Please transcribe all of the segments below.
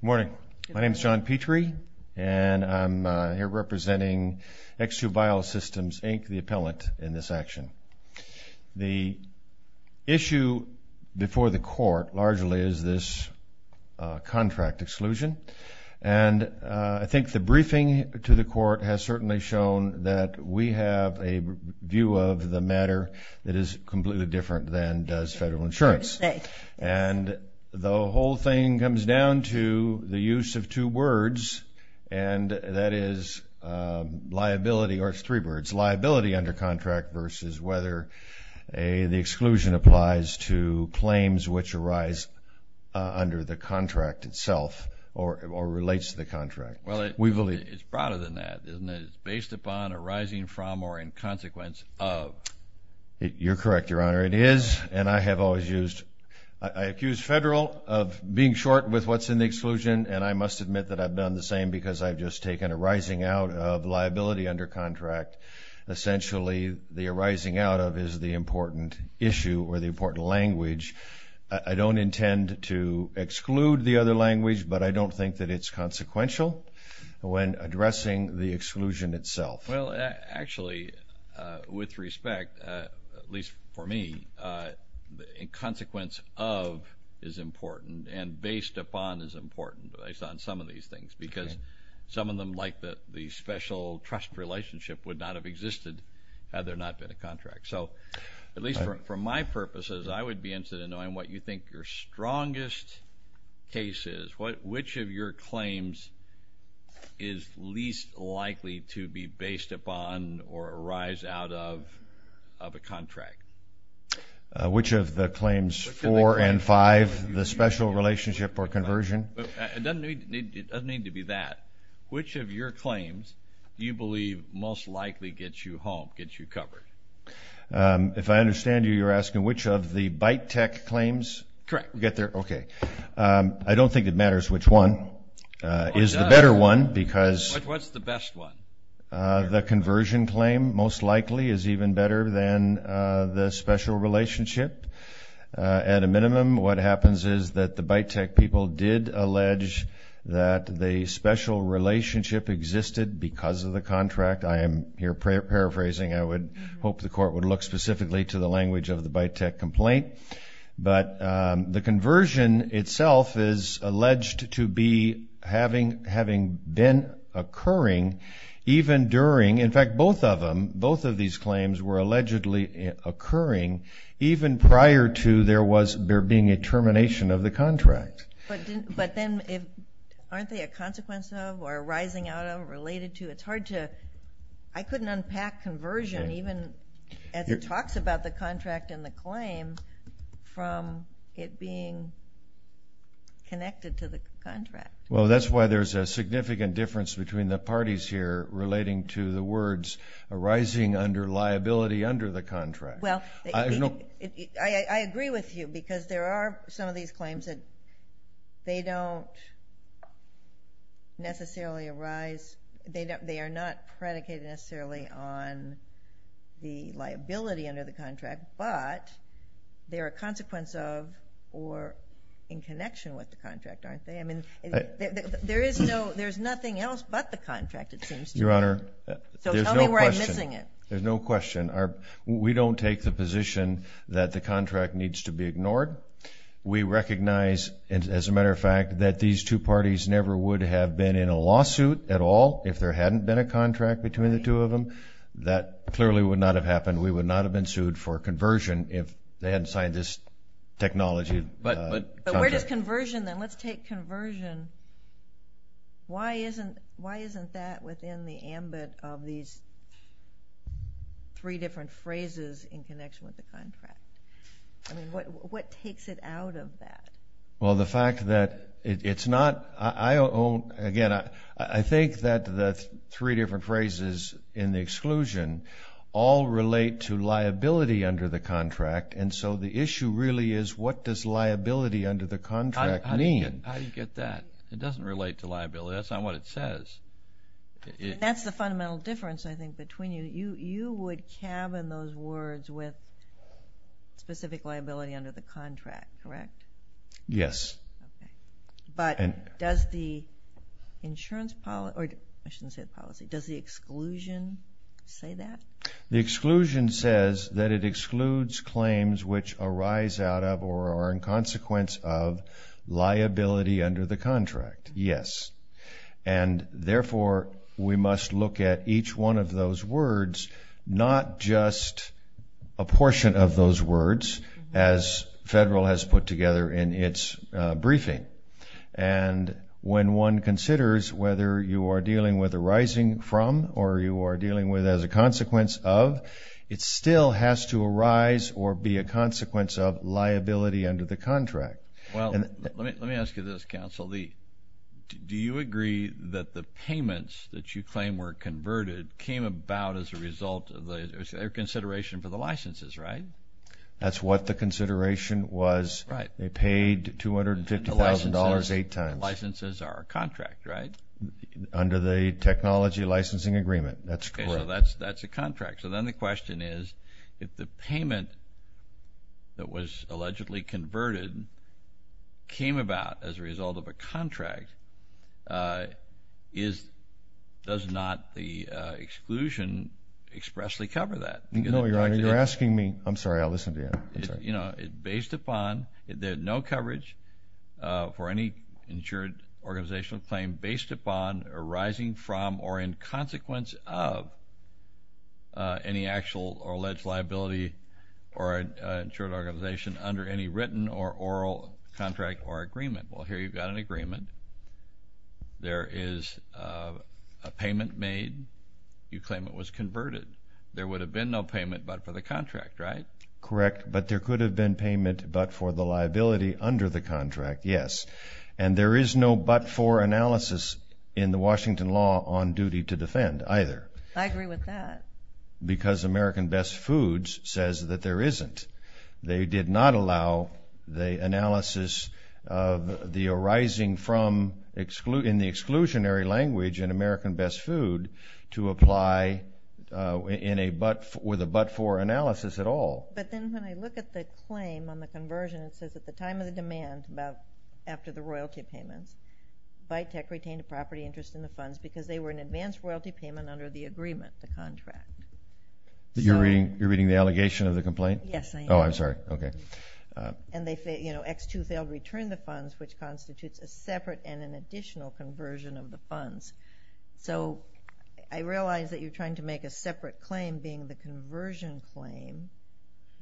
Morning. My name is John Petrie, and I'm here representing X2 Biosystems, Inc., the appellant in this action. The issue before the court largely is this contract exclusion, and I think the briefing to the court has certainly shown that we have a view of the matter that is completely different than does federal insurance. And the whole thing comes down to the use of two words, and that is liability under contract versus whether the exclusion applies to claims which arise under the contract itself or relates to the contract. Well, it's broader than that, isn't it? It's based upon arising from or in consequence of. You're correct, Your Honor. It is, and I have always used, I accuse federal of being short with what's in the exclusion, and I must admit that I've done the same because I've just taken arising out of liability under contract. Essentially, the arising out of is the important issue or the important language. I don't intend to exclude the other language, but I don't think that it's consequential when addressing the exclusion itself. Well, actually, with respect, at least for me, in consequence of is important and based upon is important based on some of these things because some of them like the special trust relationship would not have existed had there not been a contract. So, at least for my purposes, I would be interested in knowing what you think your strongest case is, which of your claims is least likely to be based upon or arise out of a contract. Which of the claims four and five, the special relationship or conversion? It doesn't need to be that. Which of your claims do you believe most likely gets you home, gets you covered? If I understand you, you're asking which of the bite tech claims? Correct. Okay. I don't think it matters which one is the better one because… What's the best one? The conversion claim most likely is even better than the special relationship. At a minimum, what happens is that the bite tech people did allege that the special relationship existed because of the contract. I am here paraphrasing. I would hope the court would look specifically to the language of the bite tech complaint. But the conversion itself is alleged to be having been occurring even during… In fact, both of them, both of these claims were allegedly occurring even prior to there being a termination of the contract. But then aren't they a consequence of or arising out of, related to? I couldn't unpack conversion even as it talks about the contract and the claim from it being connected to the contract. Well, that's why there's a significant difference between the parties here relating to the words arising under liability under the contract. I agree with you because there are some of these claims that they don't necessarily arise, they are not predicated necessarily on the liability under the contract, but they are a consequence of or in connection with the contract, aren't they? I mean, there's nothing else but the contract, it seems to me. So tell me where I'm missing it. We take the position that the contract needs to be ignored. We recognize, as a matter of fact, that these two parties never would have been in a lawsuit at all if there hadn't been a contract between the two of them. That clearly would not have happened. We would not have been sued for conversion if they hadn't signed this technology contract. But where does conversion, then, let's take conversion, why isn't that within the ambit of these three different phrases in connection with the contract? I mean, what takes it out of that? Well, the fact that it's not, again, I think that the three different phrases in the exclusion all relate to liability under the contract, and so the issue really is what does liability under the contract mean? How do you get that? It doesn't relate to liability. That's not what it says. That's the fundamental difference, I think, between you. You would cabin those words with specific liability under the contract, correct? Yes. Okay. But does the insurance policy, or I shouldn't say the policy, does the exclusion say that? The exclusion says that it excludes claims which arise out of or are in consequence of liability under the contract. Yes. And, therefore, we must look at each one of those words, not just a portion of those words, as federal has put together in its briefing. And when one considers whether you are dealing with arising from or you are dealing with as a consequence of, it still has to arise or be a consequence of liability under the contract. Well, let me ask you this, Counsel. Do you agree that the payments that you claim were converted came about as a result of their consideration for the licenses, right? That's what the consideration was. Right. They paid $250,000 eight times. The licenses are a contract, right? Under the technology licensing agreement. That's correct. Okay. So that's a contract. So then the question is if the payment that was allegedly converted came about as a result of a contract, does not the exclusion expressly cover that? No, Your Honor. You're asking me. I'm sorry. I'll listen to you. You know, based upon, there's no coverage for any insured organizational claim based upon arising from or in consequence of any actual or alleged liability or insured organization under any written or oral contract or agreement. Well, here you've got an agreement. There is a payment made. You claim it was converted. There would have been no payment but for the contract, right? Correct. But there could have been payment but for the liability under the contract, yes. And there is no but for analysis in the Washington law on duty to defend either. I agree with that. Because American Best Foods says that there isn't. They did not allow the analysis of the arising from in the exclusionary language in American Best Food to apply with a but for analysis at all. But then when I look at the claim on the conversion, it says at the time of the demand, about after the royalty payments, Vitek retained a property interest in the funds because they were an advanced royalty payment under the agreement, the contract. You're reading the allegation of the complaint? Yes, I am. Oh, I'm sorry. Okay. And they, you know, X2 failed to return the funds, which constitutes a separate and an additional conversion of the funds. So I realize that you're trying to make a separate claim being the conversion claim,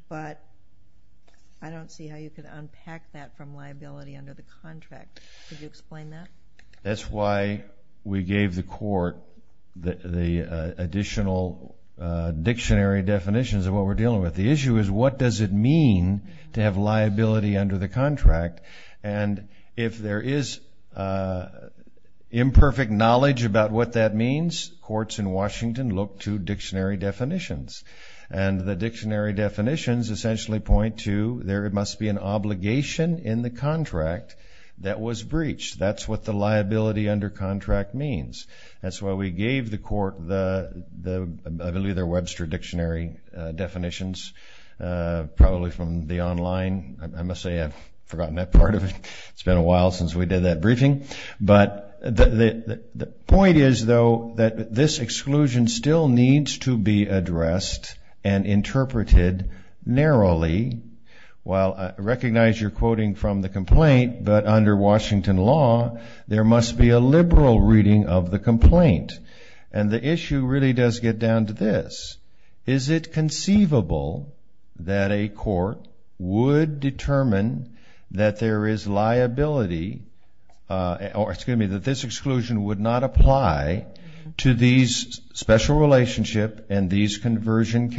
but I don't see how you could unpack that from liability under the contract. Could you explain that? That's why we gave the court the additional dictionary definitions of what we're dealing with. The issue is what does it mean to have liability under the contract? And if there is imperfect knowledge about what that means, courts in Washington look to dictionary definitions. And the dictionary definitions essentially point to there must be an obligation in the contract that was breached. That's what the liability under contract means. That's why we gave the court the Webster dictionary definitions, probably from the online. I must say I've forgotten that part of it. It's been a while since we did that briefing. But the point is, though, that this exclusion still needs to be addressed and interpreted narrowly. Well, I recognize you're quoting from the complaint, but under Washington law, there must be a liberal reading of the complaint. And the issue really does get down to this. Is it conceivable that a court would determine that there is liability or, excuse me, that this exclusion would not apply to these special relationship and these conversion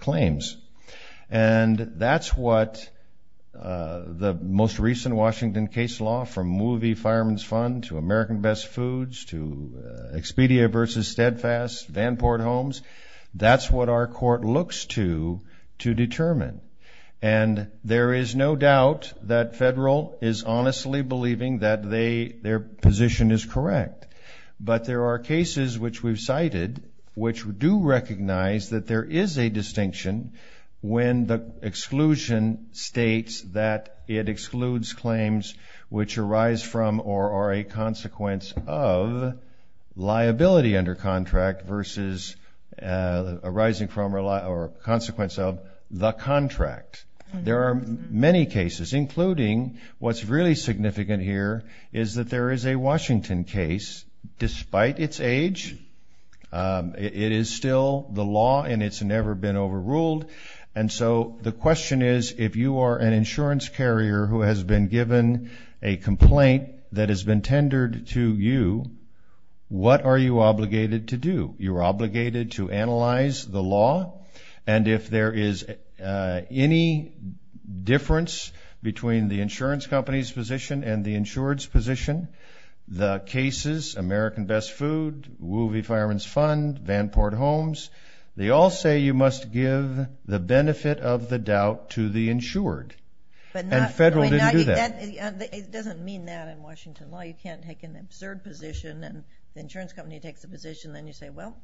claims? And that's what the most recent Washington case law from movie Fireman's Fund to American Best Foods to Expedia versus Steadfast, Vanport Homes, that's what our court looks to to determine. And there is no doubt that federal is honestly believing that their position is correct. But there are cases which we've cited which do recognize that there is a distinction when the exclusion states that it excludes claims which arise from or are a consequence of liability under contract versus arising from or consequence of the contract. There are many cases, including what's really significant here is that there is a Washington case. Despite its age, it is still the law and it's never been overruled. And so the question is, if you are an insurance carrier who has been given a complaint that has been tendered to you, what are you obligated to do? You are obligated to analyze the law. And if there is any difference between the insurance company's position and the insured's position, the cases, American Best Food, movie Fireman's Fund, Vanport Homes, they all say you must give the benefit of the doubt to the insured. And federal didn't do that. It doesn't mean that in Washington law. You can't take an absurd position and the insurance company takes the position. Then you say, well,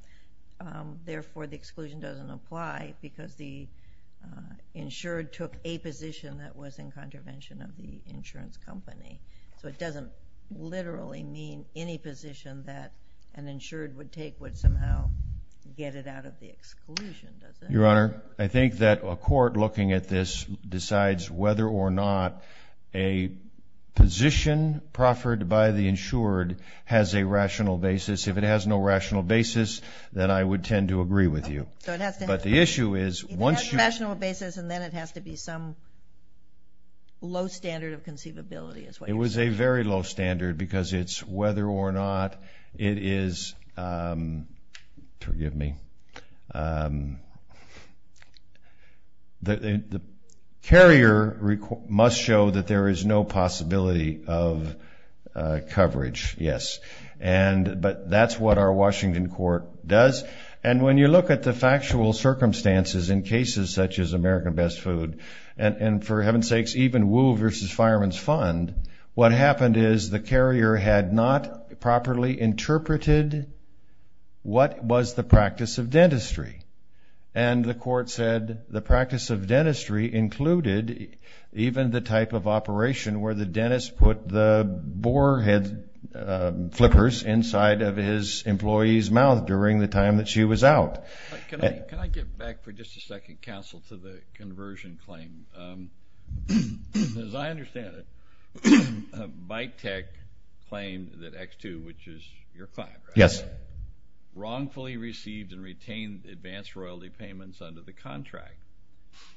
therefore the exclusion doesn't apply because the insured took a position that was in contravention of the insurance company. So it doesn't literally mean any position that an insured would take would somehow get it out of the exclusion, does it? Your Honor, I think that a court looking at this decides whether or not a position proffered by the insured has a rational basis. If it has no rational basis, then I would tend to agree with you. So it has to have a rational basis and then it has to be some low standard of conceivability is what you're saying. It was a very low standard because it's whether or not it is, forgive me, the carrier must show that there is no possibility of coverage, yes. But that's what our Washington court does. And when you look at the factual circumstances in cases such as American Best Food, and for heaven's sakes, even Wool v. Fireman's Fund, what happened is the carrier had not properly interpreted what was the practice of dentistry. And the court said the practice of dentistry included even the type of operation where the dentist put the boar head flippers inside of his employee's mouth during the time that she was out. Can I get back for just a second, counsel, to the conversion claim? As I understand it, Bitech claimed that X2, which is your client, right? Yes. Wrongfully received and retained advanced royalty payments under the contract.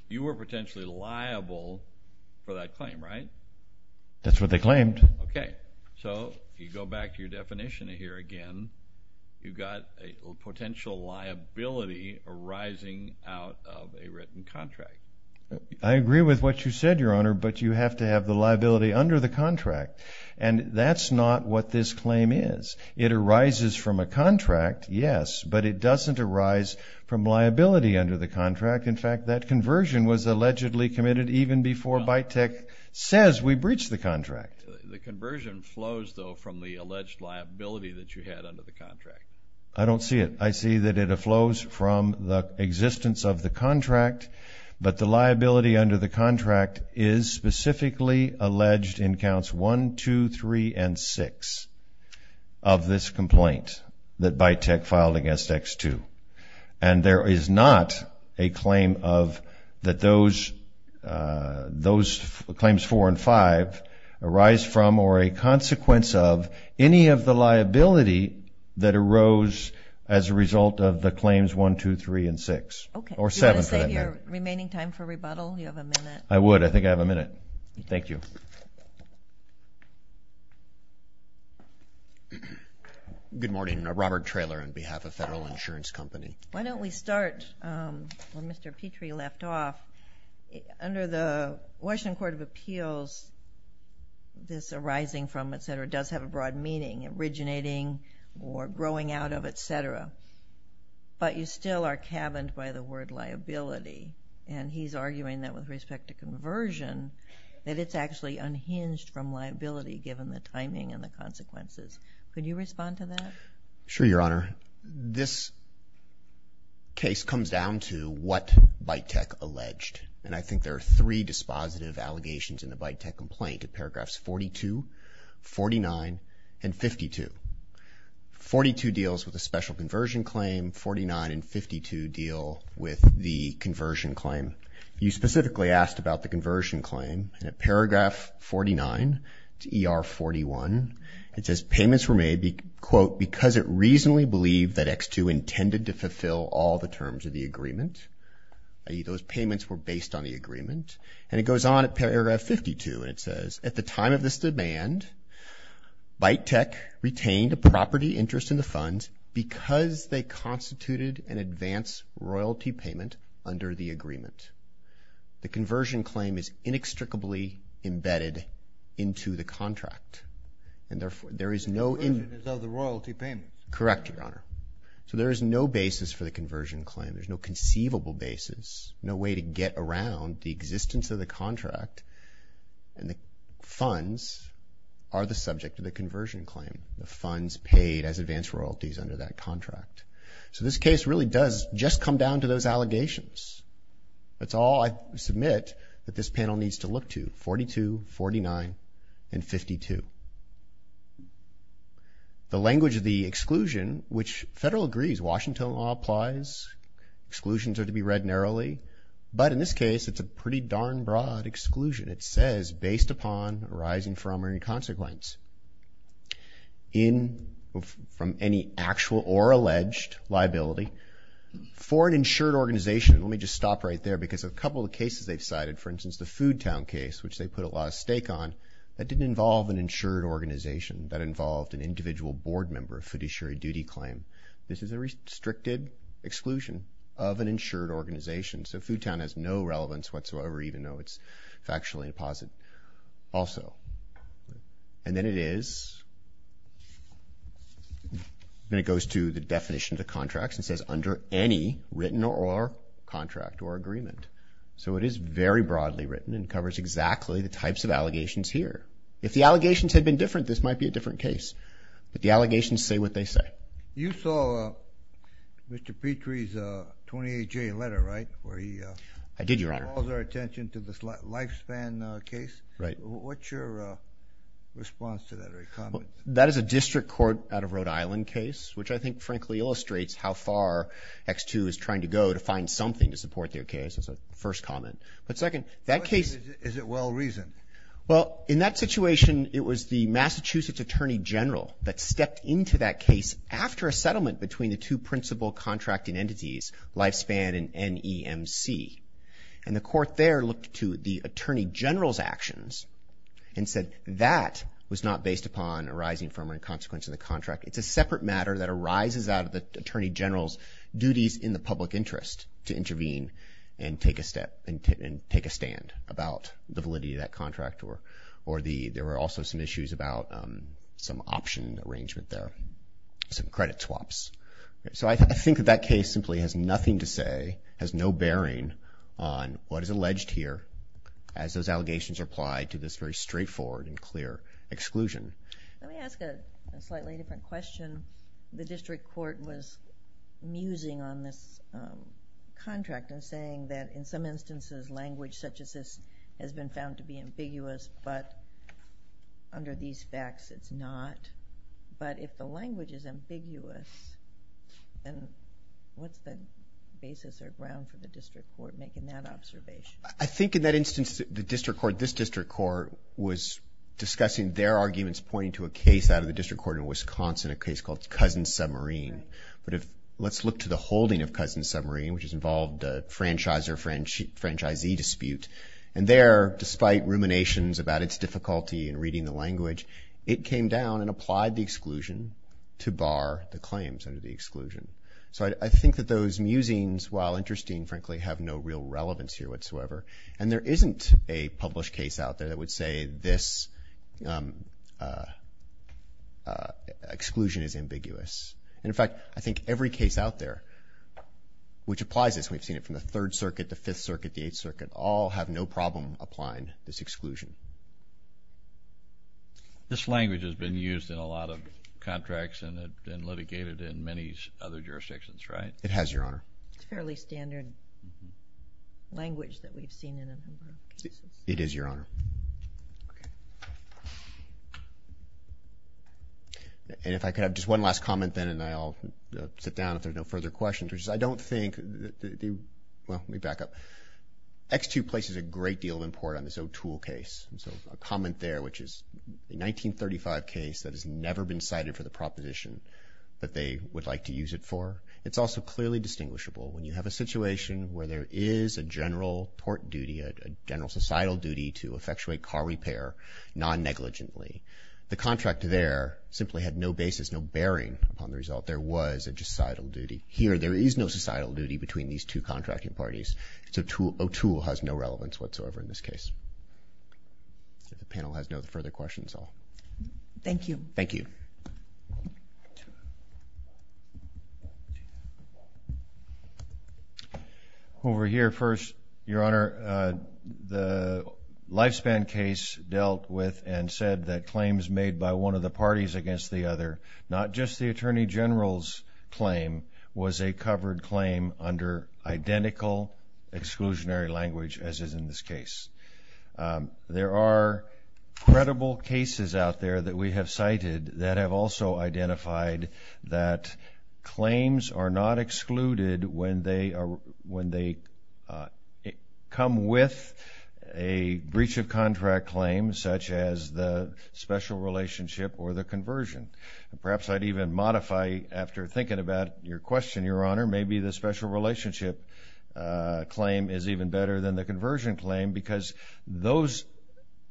You were potentially liable for that claim, right? That's what they claimed. Okay. So if you go back to your definition here again, you've got a potential liability arising out of a written contract. I agree with what you said, Your Honor, but you have to have the liability under the contract. And that's not what this claim is. It arises from a contract, yes, but it doesn't arise from liability under the contract. In fact, that conversion was allegedly committed even before Bitech says we breached the contract. The conversion flows, though, from the alleged liability that you had under the contract. I don't see it. I see that it flows from the existence of the contract. But the liability under the contract is specifically alleged in counts 1, 2, 3, and 6 of this complaint that Bitech filed against X2. And there is not a claim of that those claims 4 and 5 arise from or a consequence of any of the liability that arose as a result of the claims 1, 2, 3, and 6. Okay. Or 7 for that matter. Do you want to save your remaining time for rebuttal? You have a minute. I would. I think I have a minute. Thank you. Thank you. Good morning. Robert Traylor on behalf of Federal Insurance Company. Why don't we start where Mr. Petrie left off. Under the Washington Court of Appeals, this arising from, et cetera, does have a broad meaning, originating or growing out of, et cetera. But you still are cabined by the word liability. And he's arguing that with respect to conversion, that it's actually unhinged from liability given the timing and the consequences. Could you respond to that? Sure, Your Honor. This case comes down to what Bitech alleged. And I think there are three dispositive allegations in the Bitech complaint in paragraphs 42, 49, and 52. Forty-two deals with the special conversion claim. Forty-nine and 52 deal with the conversion claim. You specifically asked about the conversion claim. And at paragraph 49 to ER 41, it says payments were made, quote, because it reasonably believed that X2 intended to fulfill all the terms of the agreement. Those payments were based on the agreement. And it goes on at paragraph 52, and it says, at the time of this demand, Bitech retained a property interest in the fund because they constituted an advance royalty payment under the agreement. The conversion claim is inextricably embedded into the contract. And therefore, there is no in- The conversion is of the royalty payment. Correct, Your Honor. So there is no basis for the conversion claim. There's no conceivable basis. No way to get around the existence of the contract. And the funds are the subject of the conversion claim. The funds paid as advance royalties under that contract. So this case really does just come down to those allegations. That's all I submit that this panel needs to look to, 42, 49, and 52. The language of the exclusion, which Federal agrees, Washington law applies. Exclusions are to be read narrowly. But in this case, it's a pretty darn broad exclusion. It says, based upon arising from or any consequence in- from any actual or alleged liability for an insured organization. Let me just stop right there, because a couple of cases they've cited, for instance, the Foodtown case, which they put a lot of stake on, that didn't involve an insured organization. That involved an individual board member of fiduciary duty claim. This is a restricted exclusion of an insured organization. So Foodtown has no relevance whatsoever, even though it's factually a deposit also. And then it is- then it goes to the definition of the contracts and says under any written or contract or agreement. So it is very broadly written and covers exactly the types of allegations here. If the allegations had been different, this might be a different case. But the allegations say what they say. You saw Mr. Petrie's 28-J letter, right? Where he- I did, Your Honor. He calls our attention to the Lifespan case. Right. What's your response to that or comment? That is a district court out of Rhode Island case, which I think frankly illustrates how far X2 is trying to go to find something to support their case, is the first comment. But second, that case- Is it well-reasoned? Well, in that situation, it was the Massachusetts Attorney General that stepped into that case after a settlement between the two principal contracting entities, Lifespan and NEMC. And the court there looked to the Attorney General's actions and said that was not based upon arising from or in consequence of the contract. It's a separate matter that arises out of the Attorney General's duties in the public interest to intervene and take a step and take a stand about the validity of that contract or there were also some issues about some option arrangement there, some credit swaps. So I think that that case simply has nothing to say, has no bearing on what is alleged here as those allegations are applied to this very straightforward and clear exclusion. Let me ask a slightly different question. The district court was musing on this contract and saying that in some instances, language such as this has been found to be ambiguous, but under these facts, it's not. But if the language is ambiguous, then what's the basis or ground for the district court making that observation? I think in that instance, the district court, this district court was discussing their arguments pointing to a case out of the district court in Wisconsin, a case called Cousin Submarine. But let's look to the holding of Cousin Submarine, which has involved a franchisor-franchisee dispute. And there, despite ruminations about its difficulty in reading the language, it came down and applied the exclusion to bar the claims under the exclusion. So I think that those musings, while interesting, frankly, have no real relevance here whatsoever. And there isn't a published case out there that would say this exclusion is ambiguous. And in fact, I think every case out there which applies this, we've seen it from the Third Circuit, the Fifth Circuit, the Eighth Circuit, all have no problem applying this exclusion. This language has been used in a lot of contracts and litigated in many other jurisdictions, right? It has, Your Honor. It's fairly standard language that we've seen in a number of cases. It is, Your Honor. Okay. And if I could have just one last comment then, and then I'll sit down if there are no further questions. I don't think that the – well, let me back up. X2 places a great deal of import on this O2L case. And so a comment there, which is a 1935 case that has never been cited for the proposition that they would like to use it for. It's also clearly distinguishable when you have a situation where there is a general tort duty, a general societal duty to effectuate car repair non-negligently. The contract there simply had no basis, no bearing upon the result. There was a societal duty. Here there is no societal duty between these two contracting parties. So O2L has no relevance whatsoever in this case. If the panel has no further questions, I'll – Thank you. Thank you. Over here first. Your Honor, the Lifespan case dealt with and said that claims made by one of the parties against the other, not just the Attorney General's claim, was a covered claim under identical exclusionary language as is in this case. There are credible cases out there that we have cited that have also identified that claims are not excluded when they come with a breach of contract claim such as the special relationship or the conversion. Perhaps I'd even modify, after thinking about your question, Your Honor, maybe the special relationship claim is even better than the conversion claim because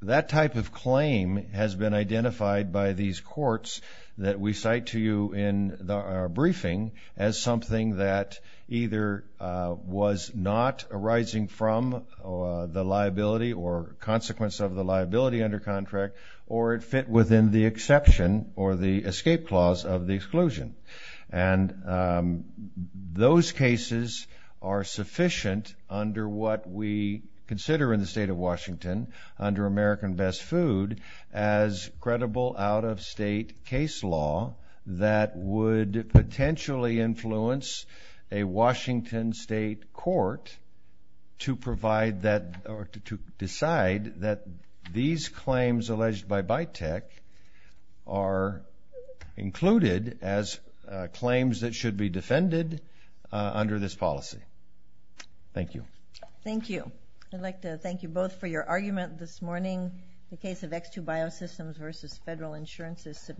that type of claim has been identified by these courts that we cite to you in our briefing as something that either was not arising from the liability or consequence of the liability under contract or it fit within the exception or the escape clause of the exclusion. And those cases are sufficient under what we consider in the State of Washington under American Best Food as credible out-of-state case law that would potentially influence a Washington State court to provide that – or to decide that these claims alleged by BITEC are included as claims that should be defended under this policy. Thank you. Thank you. I'd like to thank you both for your argument this morning. The case of X2 Biosystems v. Federal Insurance is submitted.